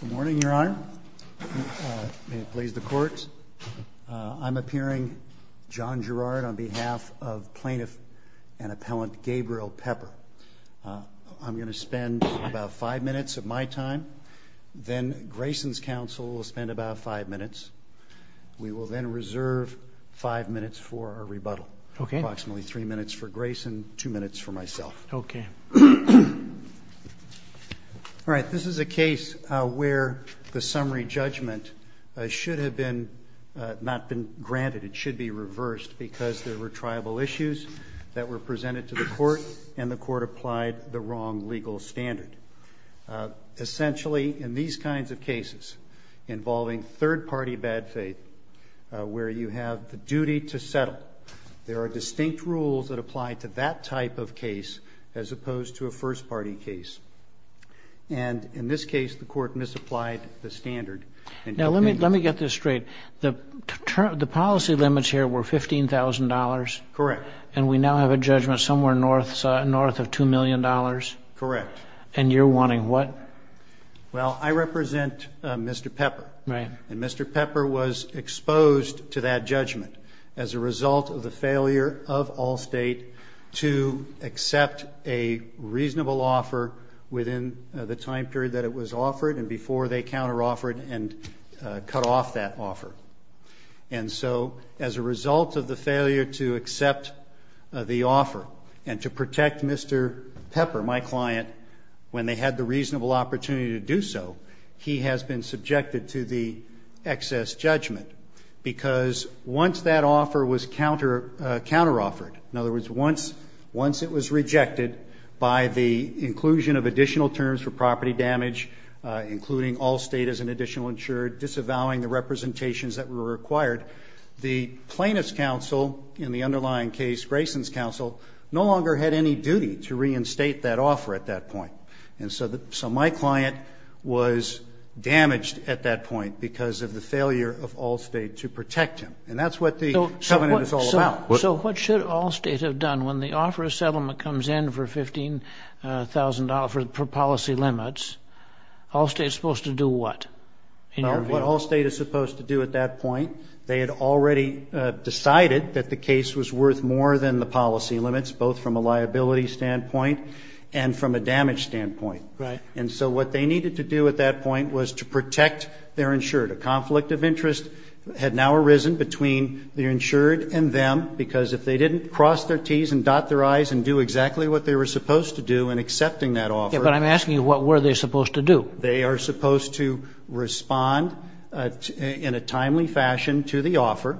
Good morning, Your Honor. May it please the Court. I'm appearing, John Gerard, on behalf of plaintiff and appellant Gabriel Pepper. I'm going to spend about five minutes of my time, then Grayson's counsel will spend about five minutes. We will then reserve five minutes for our rebuttal. Okay. Approximately three minutes for Grayson, two minutes for myself. Okay. All right. This is a case where the summary judgment should have been not been granted. It should be reversed because there were tribal issues that were presented to the Court and the Court applied the wrong legal standard. Essentially, in these kinds of cases involving third-party bad faith where you have the duty to settle, there are distinct rules that apply to that type of case as opposed to a first-party case. And in this case, the Court misapplied the standard. Now, let me get this straight. The policy limits here were $15,000? Correct. And we now have a judgment somewhere north of $2 million? Correct. And you're wanting what? Well, I represent Mr. Pepper. Right. And Mr. Pepper was exposed to that judgment as a result of the failure of Allstate to accept a reasonable offer within the time period that it was offered and before they counter-offered and cut off that offer. And so, as a result of the failure to accept the offer and to protect Mr. Pepper, my client, when they had the reasonable opportunity to do so, he has been subjected to the excess judgment because once that offer was counter-offered, in other words, once it was rejected by the inclusion of additional terms for property damage, including Allstate as an additional insured, disavowing the representations that were required, the plaintiff's counsel in the underlying case, Grayson's counsel, no longer had any duty to reinstate that offer at that point. And so my client was damaged at that point because of the failure of Allstate to protect him. And that's what the covenant is all about. So what should Allstate have done when the offer of settlement comes in for $15,000 for policy limits? Allstate is supposed to do what? Well, what Allstate is supposed to do at that point, they had already decided that the case was worth more than the policy limits, both from a liability standpoint and from a damage standpoint. Right. And so what they needed to do at that point was to protect their insured. A conflict of interest had now arisen between the insured and them because if they didn't cross their T's and dot their I's and do exactly what they were supposed to do in accepting that offer. Yeah, but I'm asking you what were they supposed to do? They are supposed to respond in a timely fashion to the offer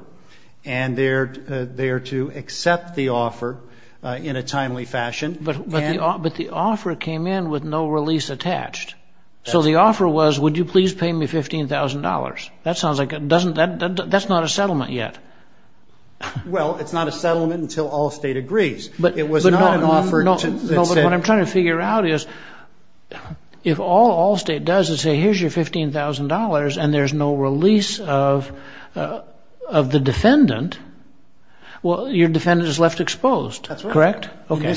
and they are to accept the offer in a timely fashion. But the offer came in with no release attached. So the offer was would you please pay me $15,000? That's not a settlement yet. Well, it's not a settlement until Allstate agrees. But what I'm trying to figure out is if all Allstate does is say here's your $15,000 and there's no release of the defendant, well your defendant is left exposed. That's right. Correct? Okay.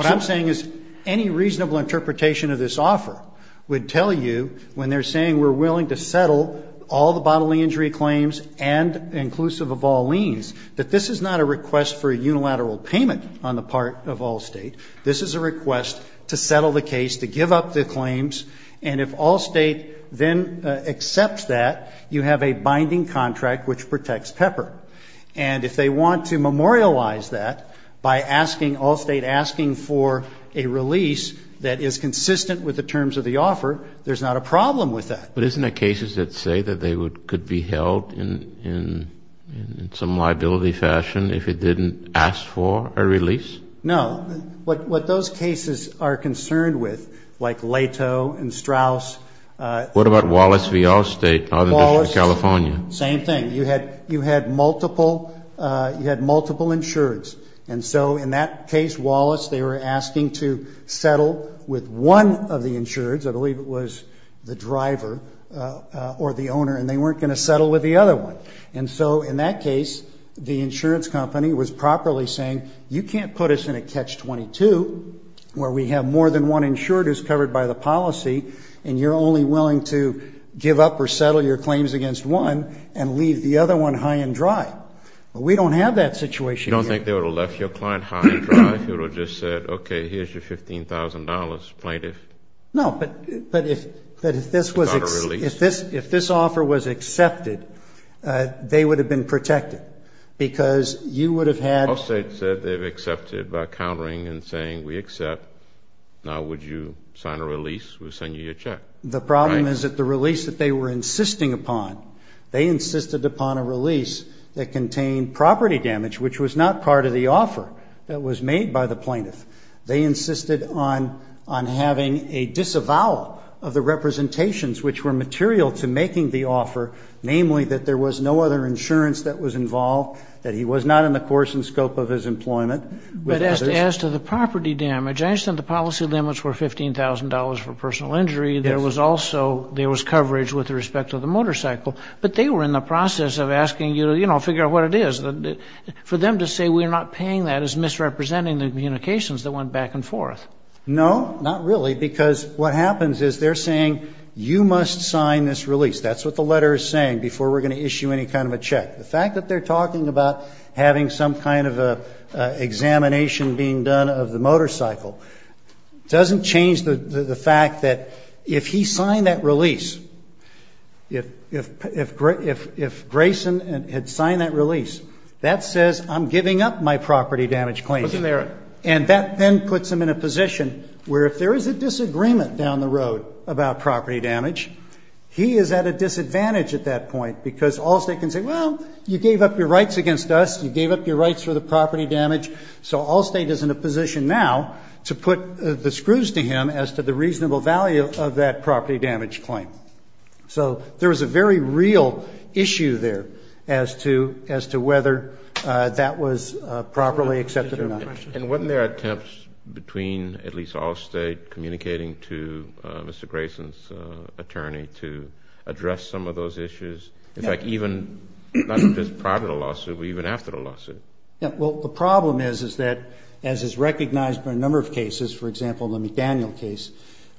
What I'm saying is any reasonable interpretation of this offer would tell you when they're saying we're willing to settle all the bodily injury claims and inclusive of all liens that this is not a request for a unilateral payment on the part of Allstate. This is a request to settle the case, to give up the claims and if Allstate then accepts that, you have a binding contract which protects Pepper. And if they want to memorialize that by asking Allstate, asking for a release that is consistent with the terms of the offer, there's not a problem with that. But isn't there cases that say that they could be held in some liability fashion if it didn't ask for a release? No. What those cases are concerned with, like Lato and Strauss. What about Wallace v. Allstate, Northern District of California? Same thing. You had multiple insureds and so in that case Wallace they were asking to settle with one of the insureds, I believe it was the driver or the owner, and they weren't going to settle with the other one. And so in that case the insurance company was properly saying you can't put us in a catch-22 where we have more than one insured who's covered by the policy and you're only willing to give up or settle your claims against one and leave the other one high and dry. But we don't have that situation here. You don't think they would have left your client high and dry if you would have just said, okay, here's your $15,000 plaintiff? No, but if this offer was accepted, they would have been protected because you would have had Allstate said they've accepted by countering and saying we accept. Now would you sign a release? We'll send you your check. The problem is that the release that they were insisting upon, they insisted upon a release that contained property damage, which was not part of the offer that was made by the plaintiff. They insisted on having a disavowal of the representations which were material to making the offer, namely that there was no other insurance that was involved, that he was not in the course and property damage. I understand the policy limits were $15,000 for personal injury. There was also, there was coverage with respect to the motorcycle, but they were in the process of asking you to, you know, figure out what it is. For them to say we're not paying that is misrepresenting the communications that went back and forth. No, not really, because what happens is they're saying you must sign this release. That's what the letter is saying before we're going to issue any kind of a check. The fact that they're talking about having some kind of an examination being done of the motorcycle doesn't change the fact that if he signed that release, if Grayson had signed that release, that says I'm giving up my property damage claim. And that then puts him in a position where if there is a disagreement down the road about property damage, he is at a disadvantage at that point because Allstate can say, well, you gave up your rights against us. You gave up your rights for the property damage. So Allstate is in a position now to put the screws to him as to the reasonable value of that property damage claim. So there was a very real issue there as to whether that was properly accepted or not. And weren't there attempts between at least Allstate communicating to Mr. Grayson's attorney to address some of those issues? In fact, even not just prior to the lawsuit, but even after the lawsuit? Yeah. Well, the problem is, is that as is recognized by a number of cases, for example, the McDaniel case,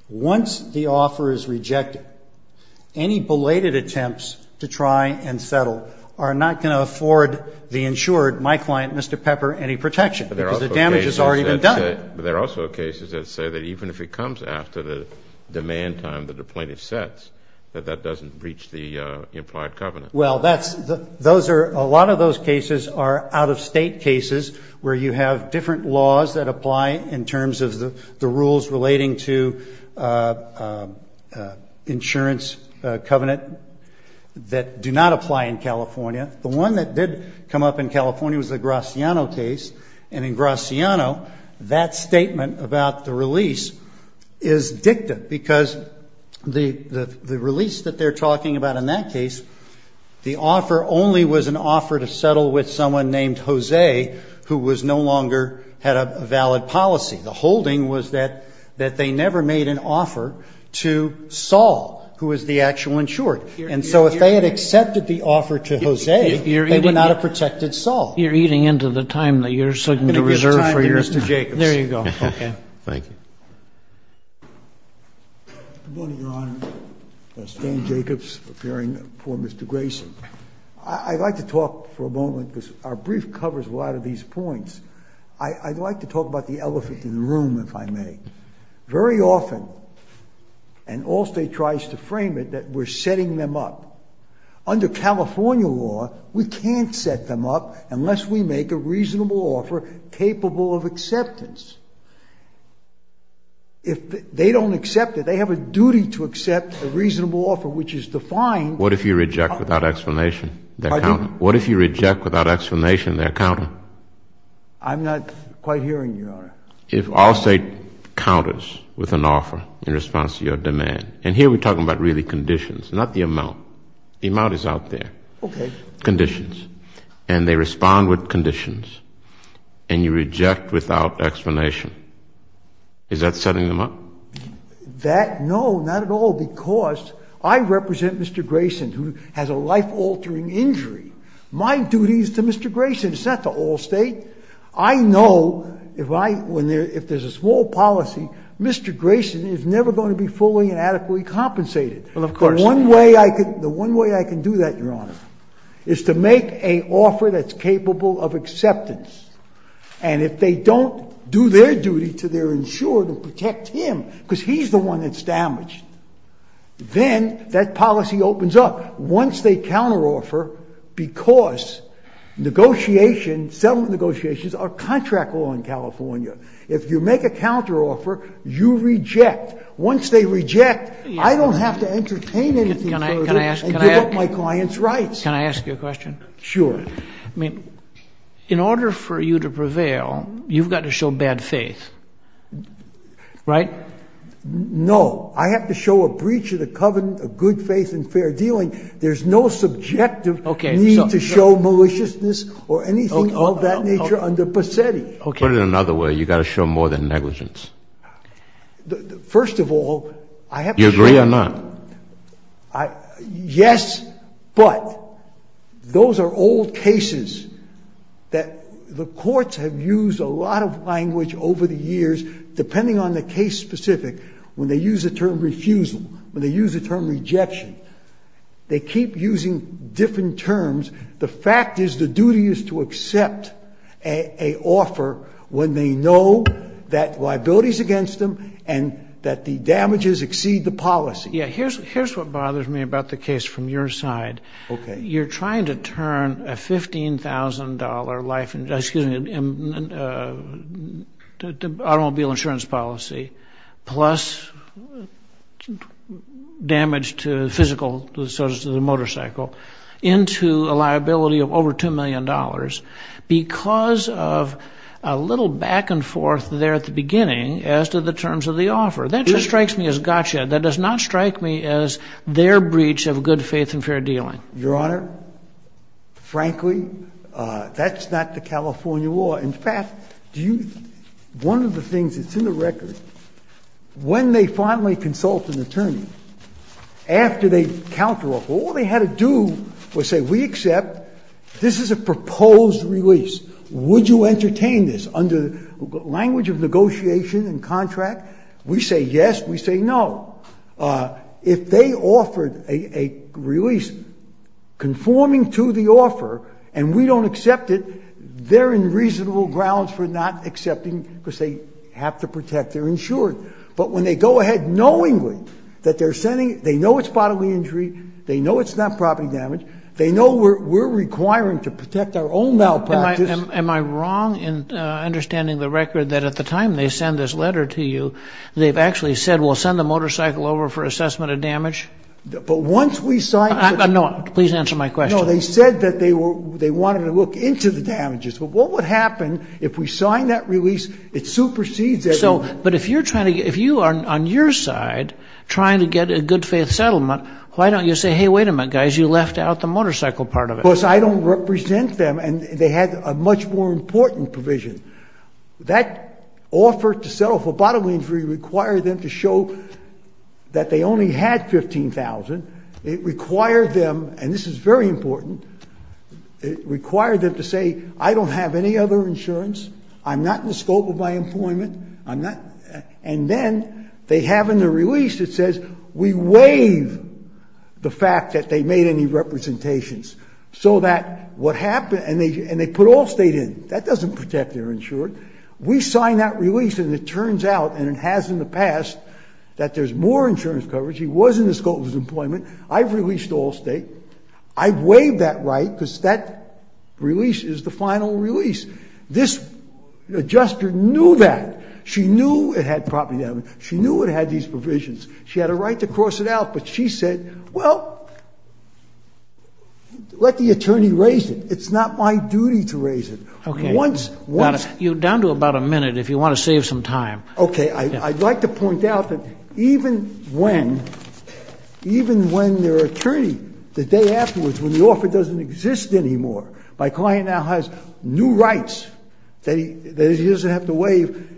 once the offer is rejected, any belated attempts to try and settle are not going to afford the insured, my client, Mr. Pepper, any protection because the damage has already been done. But there are also cases that say that even if it comes after the demand time that the doesn't reach the implied covenant. Well, that's, those are, a lot of those cases are out of state cases where you have different laws that apply in terms of the rules relating to insurance covenant that do not apply in California. The one that did come up in California was the Graciano case. And in Graciano, that the release that they're talking about in that case, the offer only was an offer to settle with someone named Jose, who was no longer had a valid policy. The holding was that, that they never made an offer to Saul, who was the actual insured. And so if they had accepted the offer to Jose, they would not have protected Saul. You're eating into the time that you're sitting to reserve for your time. There you go. Okay. Thank you. Good morning, Your Honor. Stan Jacobs, appearing before Mr. Graciano. I'd like to talk for a moment because our brief covers a lot of these points. I'd like to talk about the elephant in the room, if I may. Very often, and Allstate tries to frame it, that we're setting them up. Under California law, we can't set them up unless we make a reasonable offer capable of acceptance. If they don't accept it, they have a duty to accept a reasonable offer, which is defined. What if you reject without explanation their counter? What if you reject without explanation their counter? I'm not quite hearing you, Your Honor. If Allstate counters with an offer in response to your demand, and here we're talking about really conditions, not the amount. The amount is out there. Okay. If you reject with conditions, and they respond with conditions, and you reject without explanation, is that setting them up? That, no, not at all, because I represent Mr. Gracian, who has a life-altering injury. My duty is to Mr. Gracian. It's not to Allstate. I know if there's a small policy, Mr. Gracian is never going to be fully and adequately compensated. Well, of course. The one way I can do that, Your Honor, is to make an offer that's capable of acceptance. And if they don't do their duty to their insurer to protect him, because he's the one that's damaged, then that policy opens up. Once they counteroffer, because negotiations, settlement negotiations, are contract law in California. If you make a counteroffer, you reject. Once they reject, I don't have to entertain anything further and give up my client's rights. Can I ask you a question? Sure. I mean, in order for you to prevail, you've got to show bad faith, right? No. I have to show a breach of the covenant of good faith and fair dealing. There's no subjective need to show maliciousness or anything of that nature under Pasetti. Put it another way. You've got to show more than negligence. First of all, I have to show Do you agree or not? Yes, but those are old cases that the courts have used a lot of language over the years, depending on the case specific, when they use the term refusal, when they use the term rejection. They keep using different terms. The fact is the duty is to accept an offer when they know that liability is against them and that the damages exceed the policy. Yeah, here's what bothers me about the case from your side. You're trying to turn a $15,000 life insurance, excuse me, automobile insurance policy, plus damage to the physical, so the little back and forth there at the beginning as to the terms of the offer. That just strikes me as gotcha. That does not strike me as their breach of good faith and fair dealing. Your Honor, frankly, that's not the California law. In fact, one of the things that's in the record, when they finally consult an attorney, after they count her off, all they had to do was say, we accept, this is a proposed release. Would you entertain this? Under language of negotiation and contract, we say yes, we say no. If they offered a release conforming to the offer and we don't accept it, they're in reasonable grounds for not accepting because they have to protect their insurance. But when they go ahead knowingly that they're spotting the injury, they know it's not property damage, they know we're requiring to protect our own malpractice. Am I wrong in understanding the record that at the time they send this letter to you, they've actually said we'll send the motorcycle over for assessment of damage? But once we sign... No, please answer my question. No, they said that they wanted to look into the damages. But what would happen if we sign that release? It supersedes everyone. But if you are on your side trying to get a good faith settlement, why don't you say, hey, wait a minute, guys, you left out the motorcycle part of it. Because I don't represent them and they had a much more important provision. That offer to settle for bodily injury required them to show that they only had $15,000. It required them, and this is very important, it required them to say, I don't have any other insurance, I'm not in the scope of my employment, and then they have in the release, it says, we waive the fact that they made any representations. So that what happened, and they put Allstate in. That doesn't protect their insured. We sign that release and it turns out, and it has in the past, that there's more insurance coverage. He was in the scope of his employment. I've released Allstate. I've waived that right because that release is the final release. This adjuster knew that. She knew it had property damage. She knew it had these provisions. She had a right to cross it out, but she said, well, let the attorney raise it. It's not my duty to raise it. Okay. Once, once... You're down to about a minute if you want to save some time. Okay. I'd like to point out that even when, even when their attorney, the day afterwards, when the offer doesn't exist anymore, my client now has new rights that he, that he doesn't have to waive.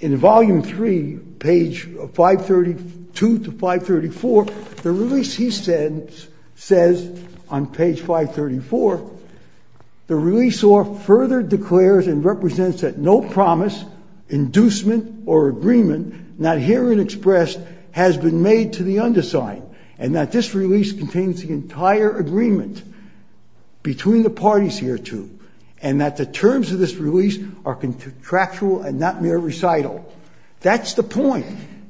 In volume three, page 532 to 534, the release he said, says on page 534, the release or further declares and represents that no promise, inducement or agreement, not hearing expressed, has been made to the underside, and that this release contains the entire agreement between the parties hereto, and that the terms of this release are contractual and not mere recital. That's the point.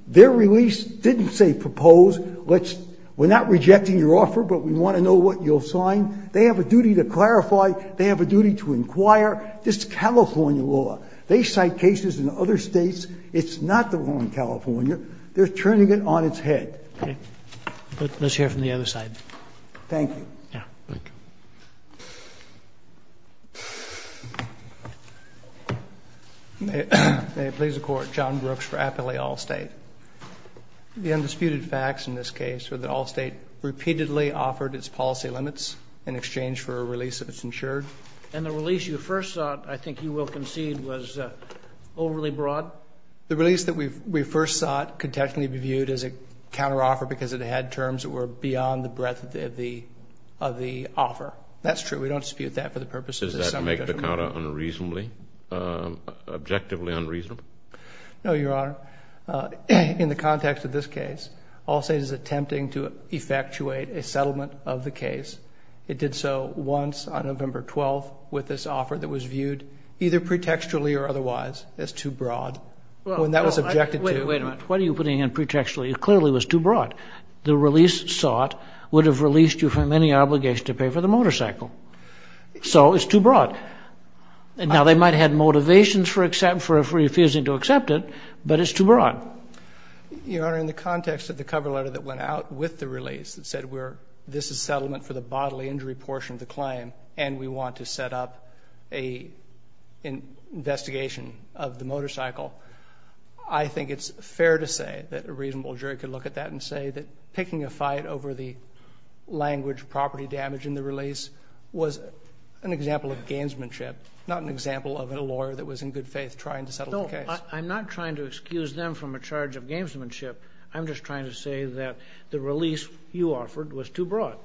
Their release didn't say, propose, let's, we're not rejecting your offer, but we want to know what you'll sign. They have a duty to clarify. They have a duty to inquire. This is California law. They cite cases in other states. It's not the law in California. They're turning it on its head. Okay. Let's hear from the other side. Thank you. Yeah. Thank you. May it please the Court. John Brooks for Appley Allstate. The undisputed facts in this case are that Allstate repeatedly offered its policy limits in exchange for a release if it's insured. And the release you first sought, I think you will concede, was overly broad? The release that we first sought could technically be viewed as a counteroffer because it had terms that were beyond the breadth of the offer. That's true. We don't dispute that for the purposes of summary judgment. Does that make the counter unreasonably, objectively unreasonable? No, Your Honor. In the context of this case, Allstate is attempting to effectuate a settlement of the case. It did so once on November 12th with this offer that was viewed either pretextually or otherwise as too broad. Wait a minute. What are you putting in pretextually? It clearly was too broad. The release sought would have released you from any obligation to pay for the motorcycle. So it's too broad. Now they might have had motivations for refusing to accept it, but it's too broad. Your Honor, in the context of the cover letter that went out with the release that said this is settlement for the bodily injury portion of the claim and we want to set up an investigation of the motorcycle, I think it's fair to say that a reasonable jury could look at that and say that picking a fight over the language property damage in the release was an example of gamesmanship, not an example of a lawyer that was in good faith trying to settle the case. No, I'm not trying to excuse them from a charge of gamesmanship. I'm just trying to say that the release you offered was too broad.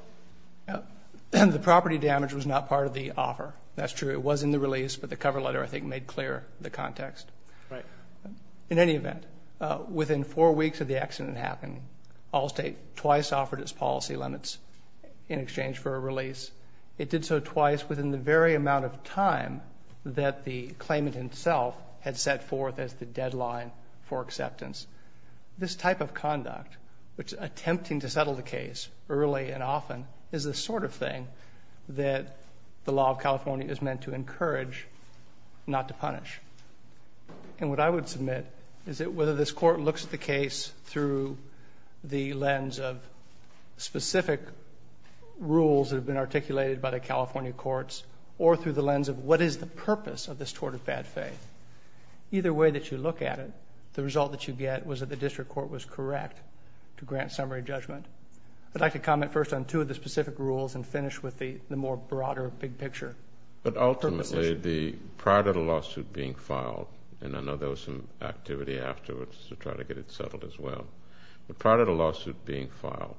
The property damage was not part of the offer. That's true. It was in the release, but the cover letter I think made clear the context. In any event, within four weeks of the accident happening, Allstate twice offered its policy limits in exchange for a release. It did so twice within the very amount of time that the claimant himself had set forth as the deadline for acceptance. This type of conduct, which is attempting to settle the case early and often, is the sort of thing that the law of California is meant to encourage not to punish. And what I would submit is that whether this court looks at the case through the lens of specific rules that have been articulated by the California courts or through the lens of what is the purpose of this tort of bad faith, either way that you look at it, the result that you get was that the district court was correct to grant summary judgment. I'd like to comment first on two of the specific rules and finish with the more broader big picture. But ultimately, prior to the lawsuit being filed, and I know there was some activity afterwards to try to get it settled as well, but prior to the lawsuit being filed,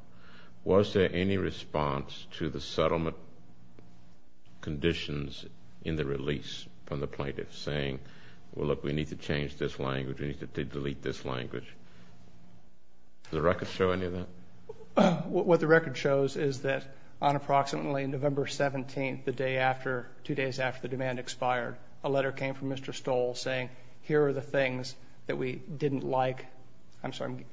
was there any response to the settlement conditions in the release from the plaintiff saying, well, look, we need to change this language, we need to delete this language? Does the record show any of that? What the record shows is that on approximately November 17th, the day after, two days after the demand expired, a letter came from Mr. Stoll saying, here are the things that we didn't like. I'm sorry,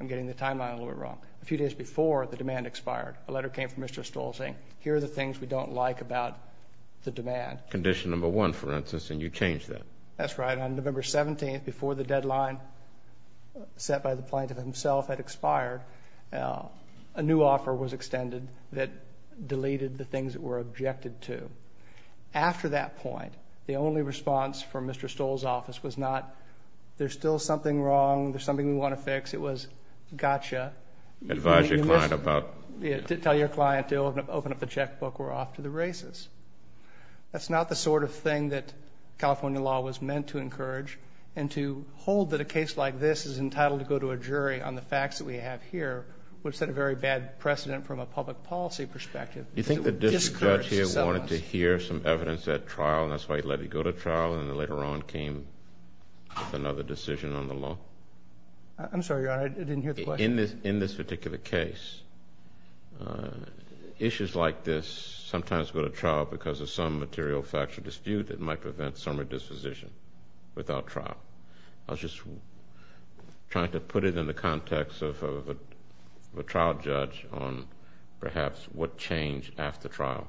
I'm getting the timeline a little bit wrong. A few days before the demand expired, a letter came from Mr. Stoll saying, here are the things we don't like about the demand. Condition number one, for instance, and you changed that. That's right. On November 17th, before the deadline set by the plaintiff himself had expired, a new offer was extended that deleted the things that were objected to. After that point, the only response from Mr. Stoll's office was not, there's still something wrong, there's something we want to fix. It was, gotcha. Advise your client about. Tell your client to open up the checkbook, we're off to the races. That's not the sort of thing that California law was meant to encourage, and to hold that a case like this is entitled to go to a jury on the facts that we have here would set a very bad precedent from a public policy perspective. You think the judge here wanted to hear some evidence at trial, and that's why he let it go to trial and then later on came with another decision on the law? I'm sorry, Your Honor, I didn't hear the question. In this particular case, issues like this sometimes go to trial because of some material factual dispute that might prevent summary disposition without trial. I was just trying to put it in the context of a trial judge on perhaps what changed after trial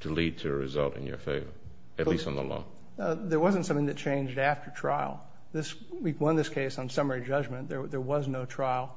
to lead to a result in your favor, at least on the law. There wasn't something that changed after trial. We won this case on summary judgment. There was no trial.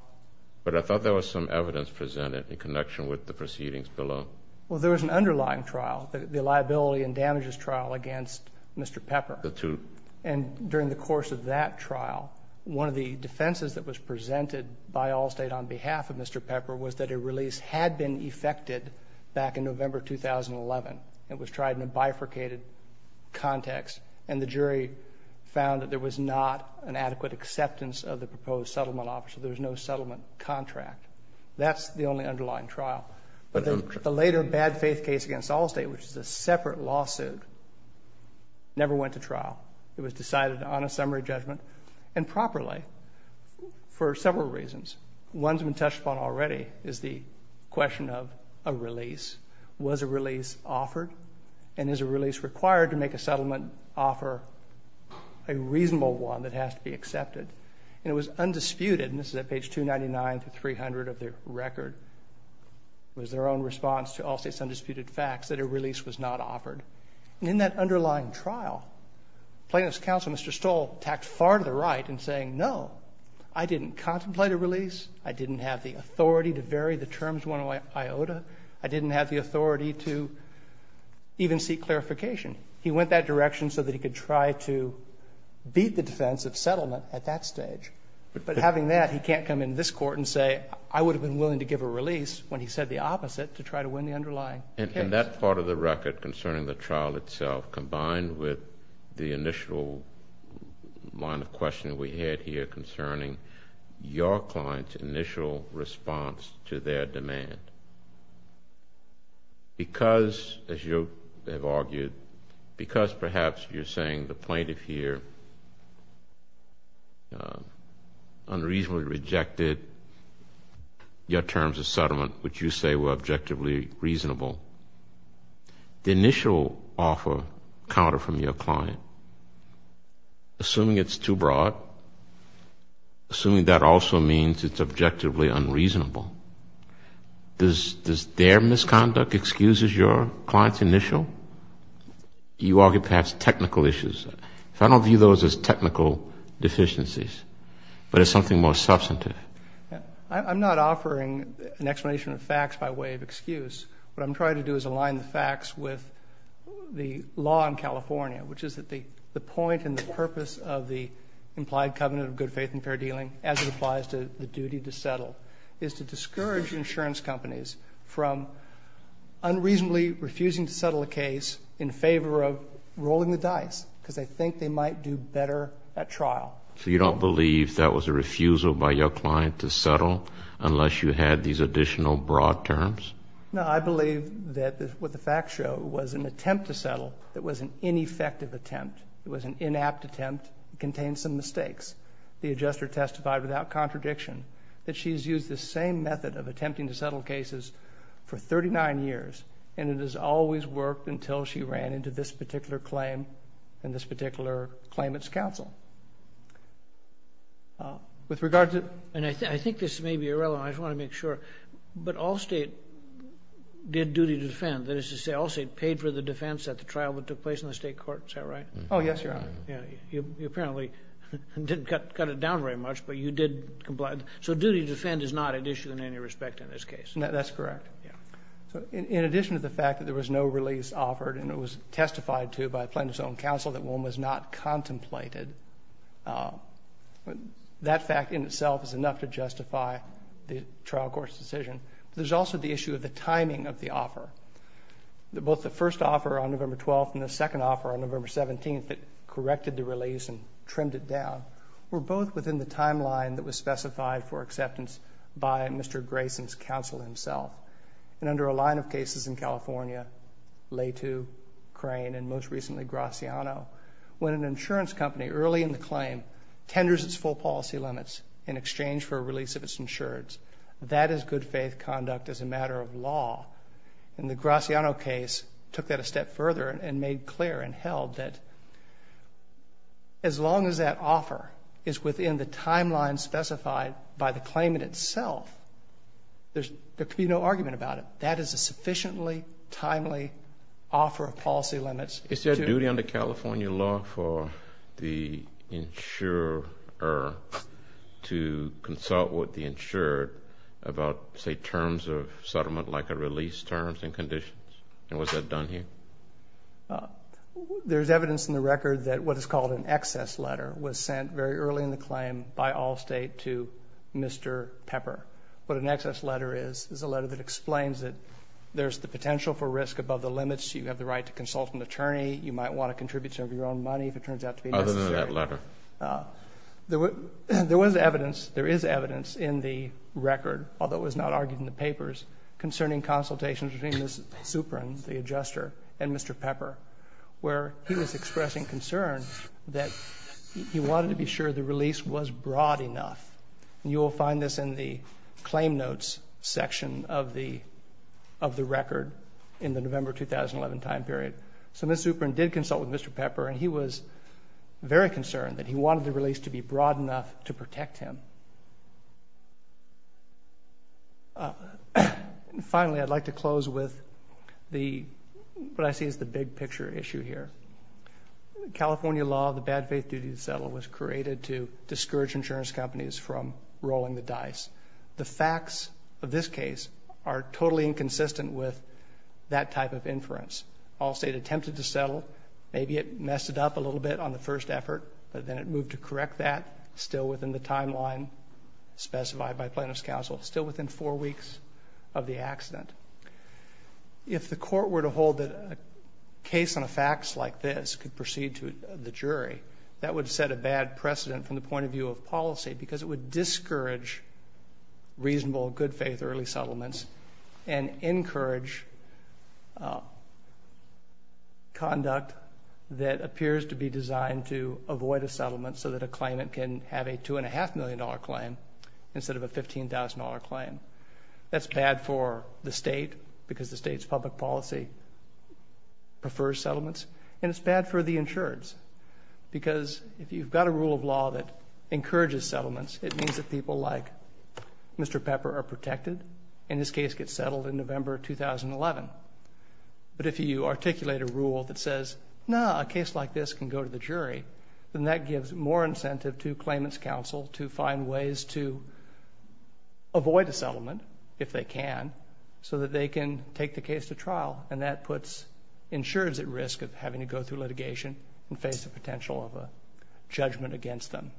But I thought there was some evidence presented in connection with the proceedings below. Well, there was an underlying trial, the liability and damages trial against Mr. Pepper. The two. And during the course of that trial, one of the defenses that was presented by Allstate on behalf of Mr. Pepper was that a release had been effected back in November 2011. It was tried in a bifurcated context, and the jury found that there was not an adequate acceptance of the proposed settlement option. There was no settlement contract. That's the only underlying trial. But the later bad faith case against Allstate, which is a separate lawsuit, never went to trial. It was decided on a summary judgment and properly for several reasons. One that's been touched upon already is the question of a release. Was a release offered? And is a release required to make a settlement offer a reasonable one that has to be accepted? And it was undisputed, and this is at page 299 through 300 of the record, was their own response to Allstate's undisputed facts that a release was not offered. And in that underlying trial, plaintiff's counsel, Mr. Stoll, tacked far to the right in saying, No, I didn't contemplate a release. I didn't have the authority to vary the terms one way or the other. I didn't have the authority to even seek clarification. He went that direction so that he could try to beat the defense of settlement at that stage. But having that, he can't come in this court and say, I would have been willing to give a release when he said the opposite to try to win the underlying case. In that part of the record concerning the trial itself, combined with the initial line of questioning we had here concerning your client's initial response to their demand, because, as you have argued, because perhaps you're saying the plaintiff here unreasonably rejected your terms of settlement, which you say were objectively reasonable, the initial offer counter from your client, assuming it's too broad, assuming that also means it's objectively unreasonable, does their misconduct excuse your client's initial? You argue perhaps technical issues. I don't view those as technical deficiencies, but as something more substantive. I'm not offering an explanation of facts by way of excuse, what I'm trying to do is align the facts with the law in California, which is that the point and the purpose of the implied covenant of good faith and fair dealing, as it applies to the duty to settle, is to discourage insurance companies from unreasonably refusing to settle a case in favor of rolling the dice because they think they might do better at trial. So you don't believe that was a refusal by your client to settle unless you had these additional broad terms? No, I believe that what the facts show was an attempt to settle that was an ineffective attempt. It was an inapt attempt. It contained some mistakes. The adjuster testified without contradiction that she's used the same method of attempting to settle cases for 39 years, and it has always worked until she ran into this particular claim and this particular claimant's counsel. And I think this may be irrelevant. I just want to make sure. But Allstate did duty defend. That is to say, Allstate paid for the defense at the trial that took place in the state court. Is that right? Oh, yes, Your Honor. You apparently didn't cut it down very much, but you did comply. So duty to defend is not at issue in any respect in this case. That's correct. In addition to the fact that there was no release offered and it was testified to by plaintiff's own counsel that one was not contemplated, that fact in itself is enough to justify the trial court's decision. There's also the issue of the timing of the offer. Both the first offer on November 12th and the second offer on November 17th that corrected the release and trimmed it down were both within the timeline that was specified for acceptance by Mr. Grayson's counsel himself. And under a line of cases in California, Lehto, Crane, and most recently Graciano, when an insurance company early in the claim tenders its full policy limits in exchange for a release of its insurance, that is good faith conduct as a matter of law. In the Graciano case, it took that a step further and made clear and held that as long as that offer is within the timeline specified by the claimant itself, there can be no argument about it. That is a sufficiently timely offer of policy limits. Is there a duty under California law for the insurer to consult with the insured about, say, terms of settlement like a release terms and conditions? And was that done here? There's evidence in the record that what is called an excess letter was sent very early in the claim by Allstate to Mr. Pepper. What an excess letter is is a letter that explains that there's the potential for risk above the limits. You have the right to consult an attorney. You might want to contribute some of your own money if it turns out to be necessary. Other than that letter? There is evidence in the record, although it was not argued in the papers, concerning consultations between Ms. Supron, the adjuster, and Mr. Pepper, where he was expressing concern that he wanted to be sure the release was broad enough. And you will find this in the claim notes section of the record in the November 2011 time period. So Ms. Supron did consult with Mr. Pepper, and he was very concerned that he wanted the release to be broad enough to protect him. Finally, I'd like to close with what I see as the big picture issue here. California law, the bad faith duty to settle, was created to discourage insurance companies from rolling the dice. The facts of this case are totally inconsistent with that type of inference. Allstate attempted to settle. Maybe it messed it up a little bit on the first effort, but then it moved to correct that still within the timeline specified by plaintiff's counsel, still within four weeks of the accident. If the court were to hold that a case on a fax like this could proceed to the jury, that would set a bad precedent from the point of view of policy because it would discourage reasonable good faith early settlements and encourage conduct that appears to be designed to avoid a settlement so that a claimant can have a $2.5 million claim instead of a $15,000 claim. That's bad for the state because the state's public policy prefers settlements, and it's bad for the insureds because if you've got a rule of law that encourages settlements, it means that people like Mr. Pepper are protected and his case gets settled in November 2011. But if you articulate a rule that says, no, a case like this can go to the jury, then that gives more incentive to claimant's counsel to find ways to avoid a settlement if they can so that they can take the case to trial, and that puts insureds at risk of having to go through litigation and face the potential of a judgment against them.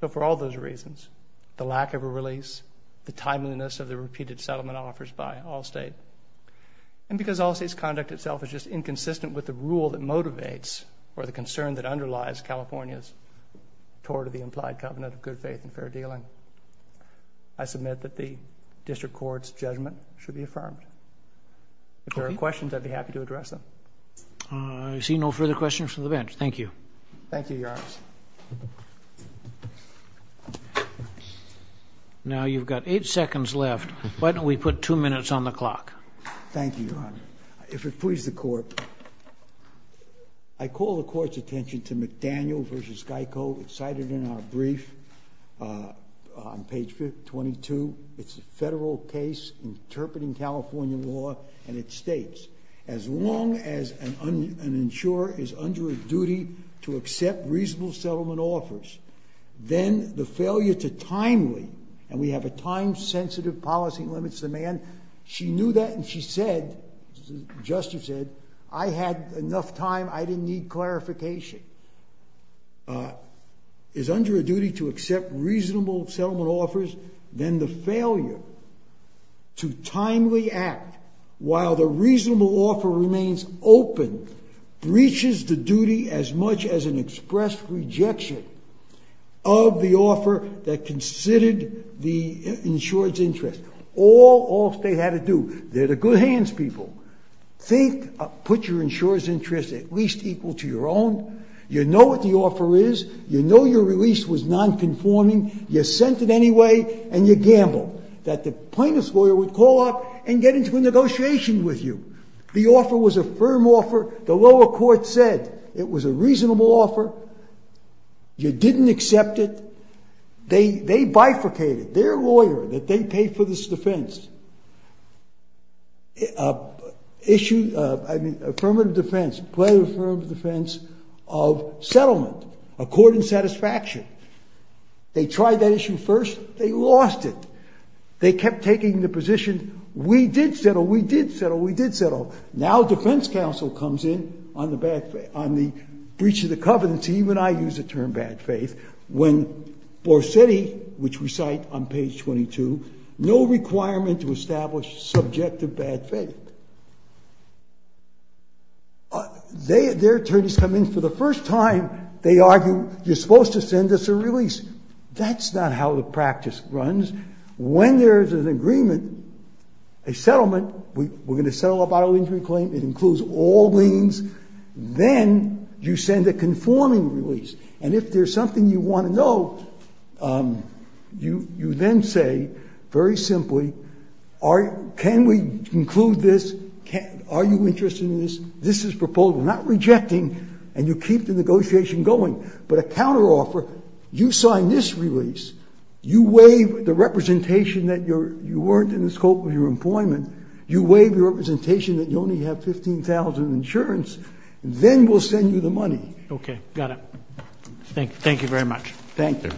So for all those reasons, the lack of a release, the timeliness of the repeated settlement offers by Allstate, and because Allstate's conduct itself is just inconsistent with the rule that motivates or the concern that underlies California's tour to the implied covenant of good faith and fair dealing, I submit that the district court's judgment should be affirmed. If there are questions, I'd be happy to address them. I see no further questions from the bench. Thank you. Thank you, Your Honor. Now you've got eight seconds left. Why don't we put two minutes on the clock? Thank you, Your Honor. If it pleases the court, I call the court's attention to McDaniel v. Geico. It's cited in our brief on page 22. It's a federal case interpreting California law, and it states, as long as an insurer is under a duty to accept reasonable settlement offers, then the failure to timely, and we have a time-sensitive policy limits demand. She knew that, and she said, Justice said, I had enough time. I didn't need clarification. If an insurer is under a duty to accept reasonable settlement offers, then the failure to timely act while the reasonable offer remains open breaches the duty as much as an express rejection of the offer that considered the insurer's interest. All states have to do. They're the good hands, people. Think, put your insurer's interest at least equal to your own. You know what the offer is. You know your release was nonconforming. You sent it anyway, and you gambled. That the plaintiff's lawyer would call up and get into a negotiation with you. The offer was a firm offer. The lower court said it was a reasonable offer. You didn't accept it. They bifurcated. Their lawyer that they paid for this defense issued affirmative defense, plaintiff affirmed defense of settlement according to satisfaction. They tried that issue first. They lost it. They kept taking the position, we did settle, we did settle, we did settle. Now defense counsel comes in on the breach of the covenants, even I use the term bad faith, when Borsetti, which we cite on page 22, no requirement to establish subjective bad faith. Their attorneys come in for the first time. They argue you're supposed to send us a release. That's not how the practice runs. When there's an agreement, a settlement, we're going to settle a bodily injury claim. It includes all liens. Then you send a conforming release. And if there's something you want to know, you then say very simply, can we conclude this, are you interested in this, this is proposed. We're not rejecting, and you keep the negotiation going. But a counteroffer, you sign this release, you waive the representation that you weren't in the scope of your employment, you waive the representation that you only have $15,000 in insurance, then we'll send you the money. Okay. Got it. Thank you very much. Thank you.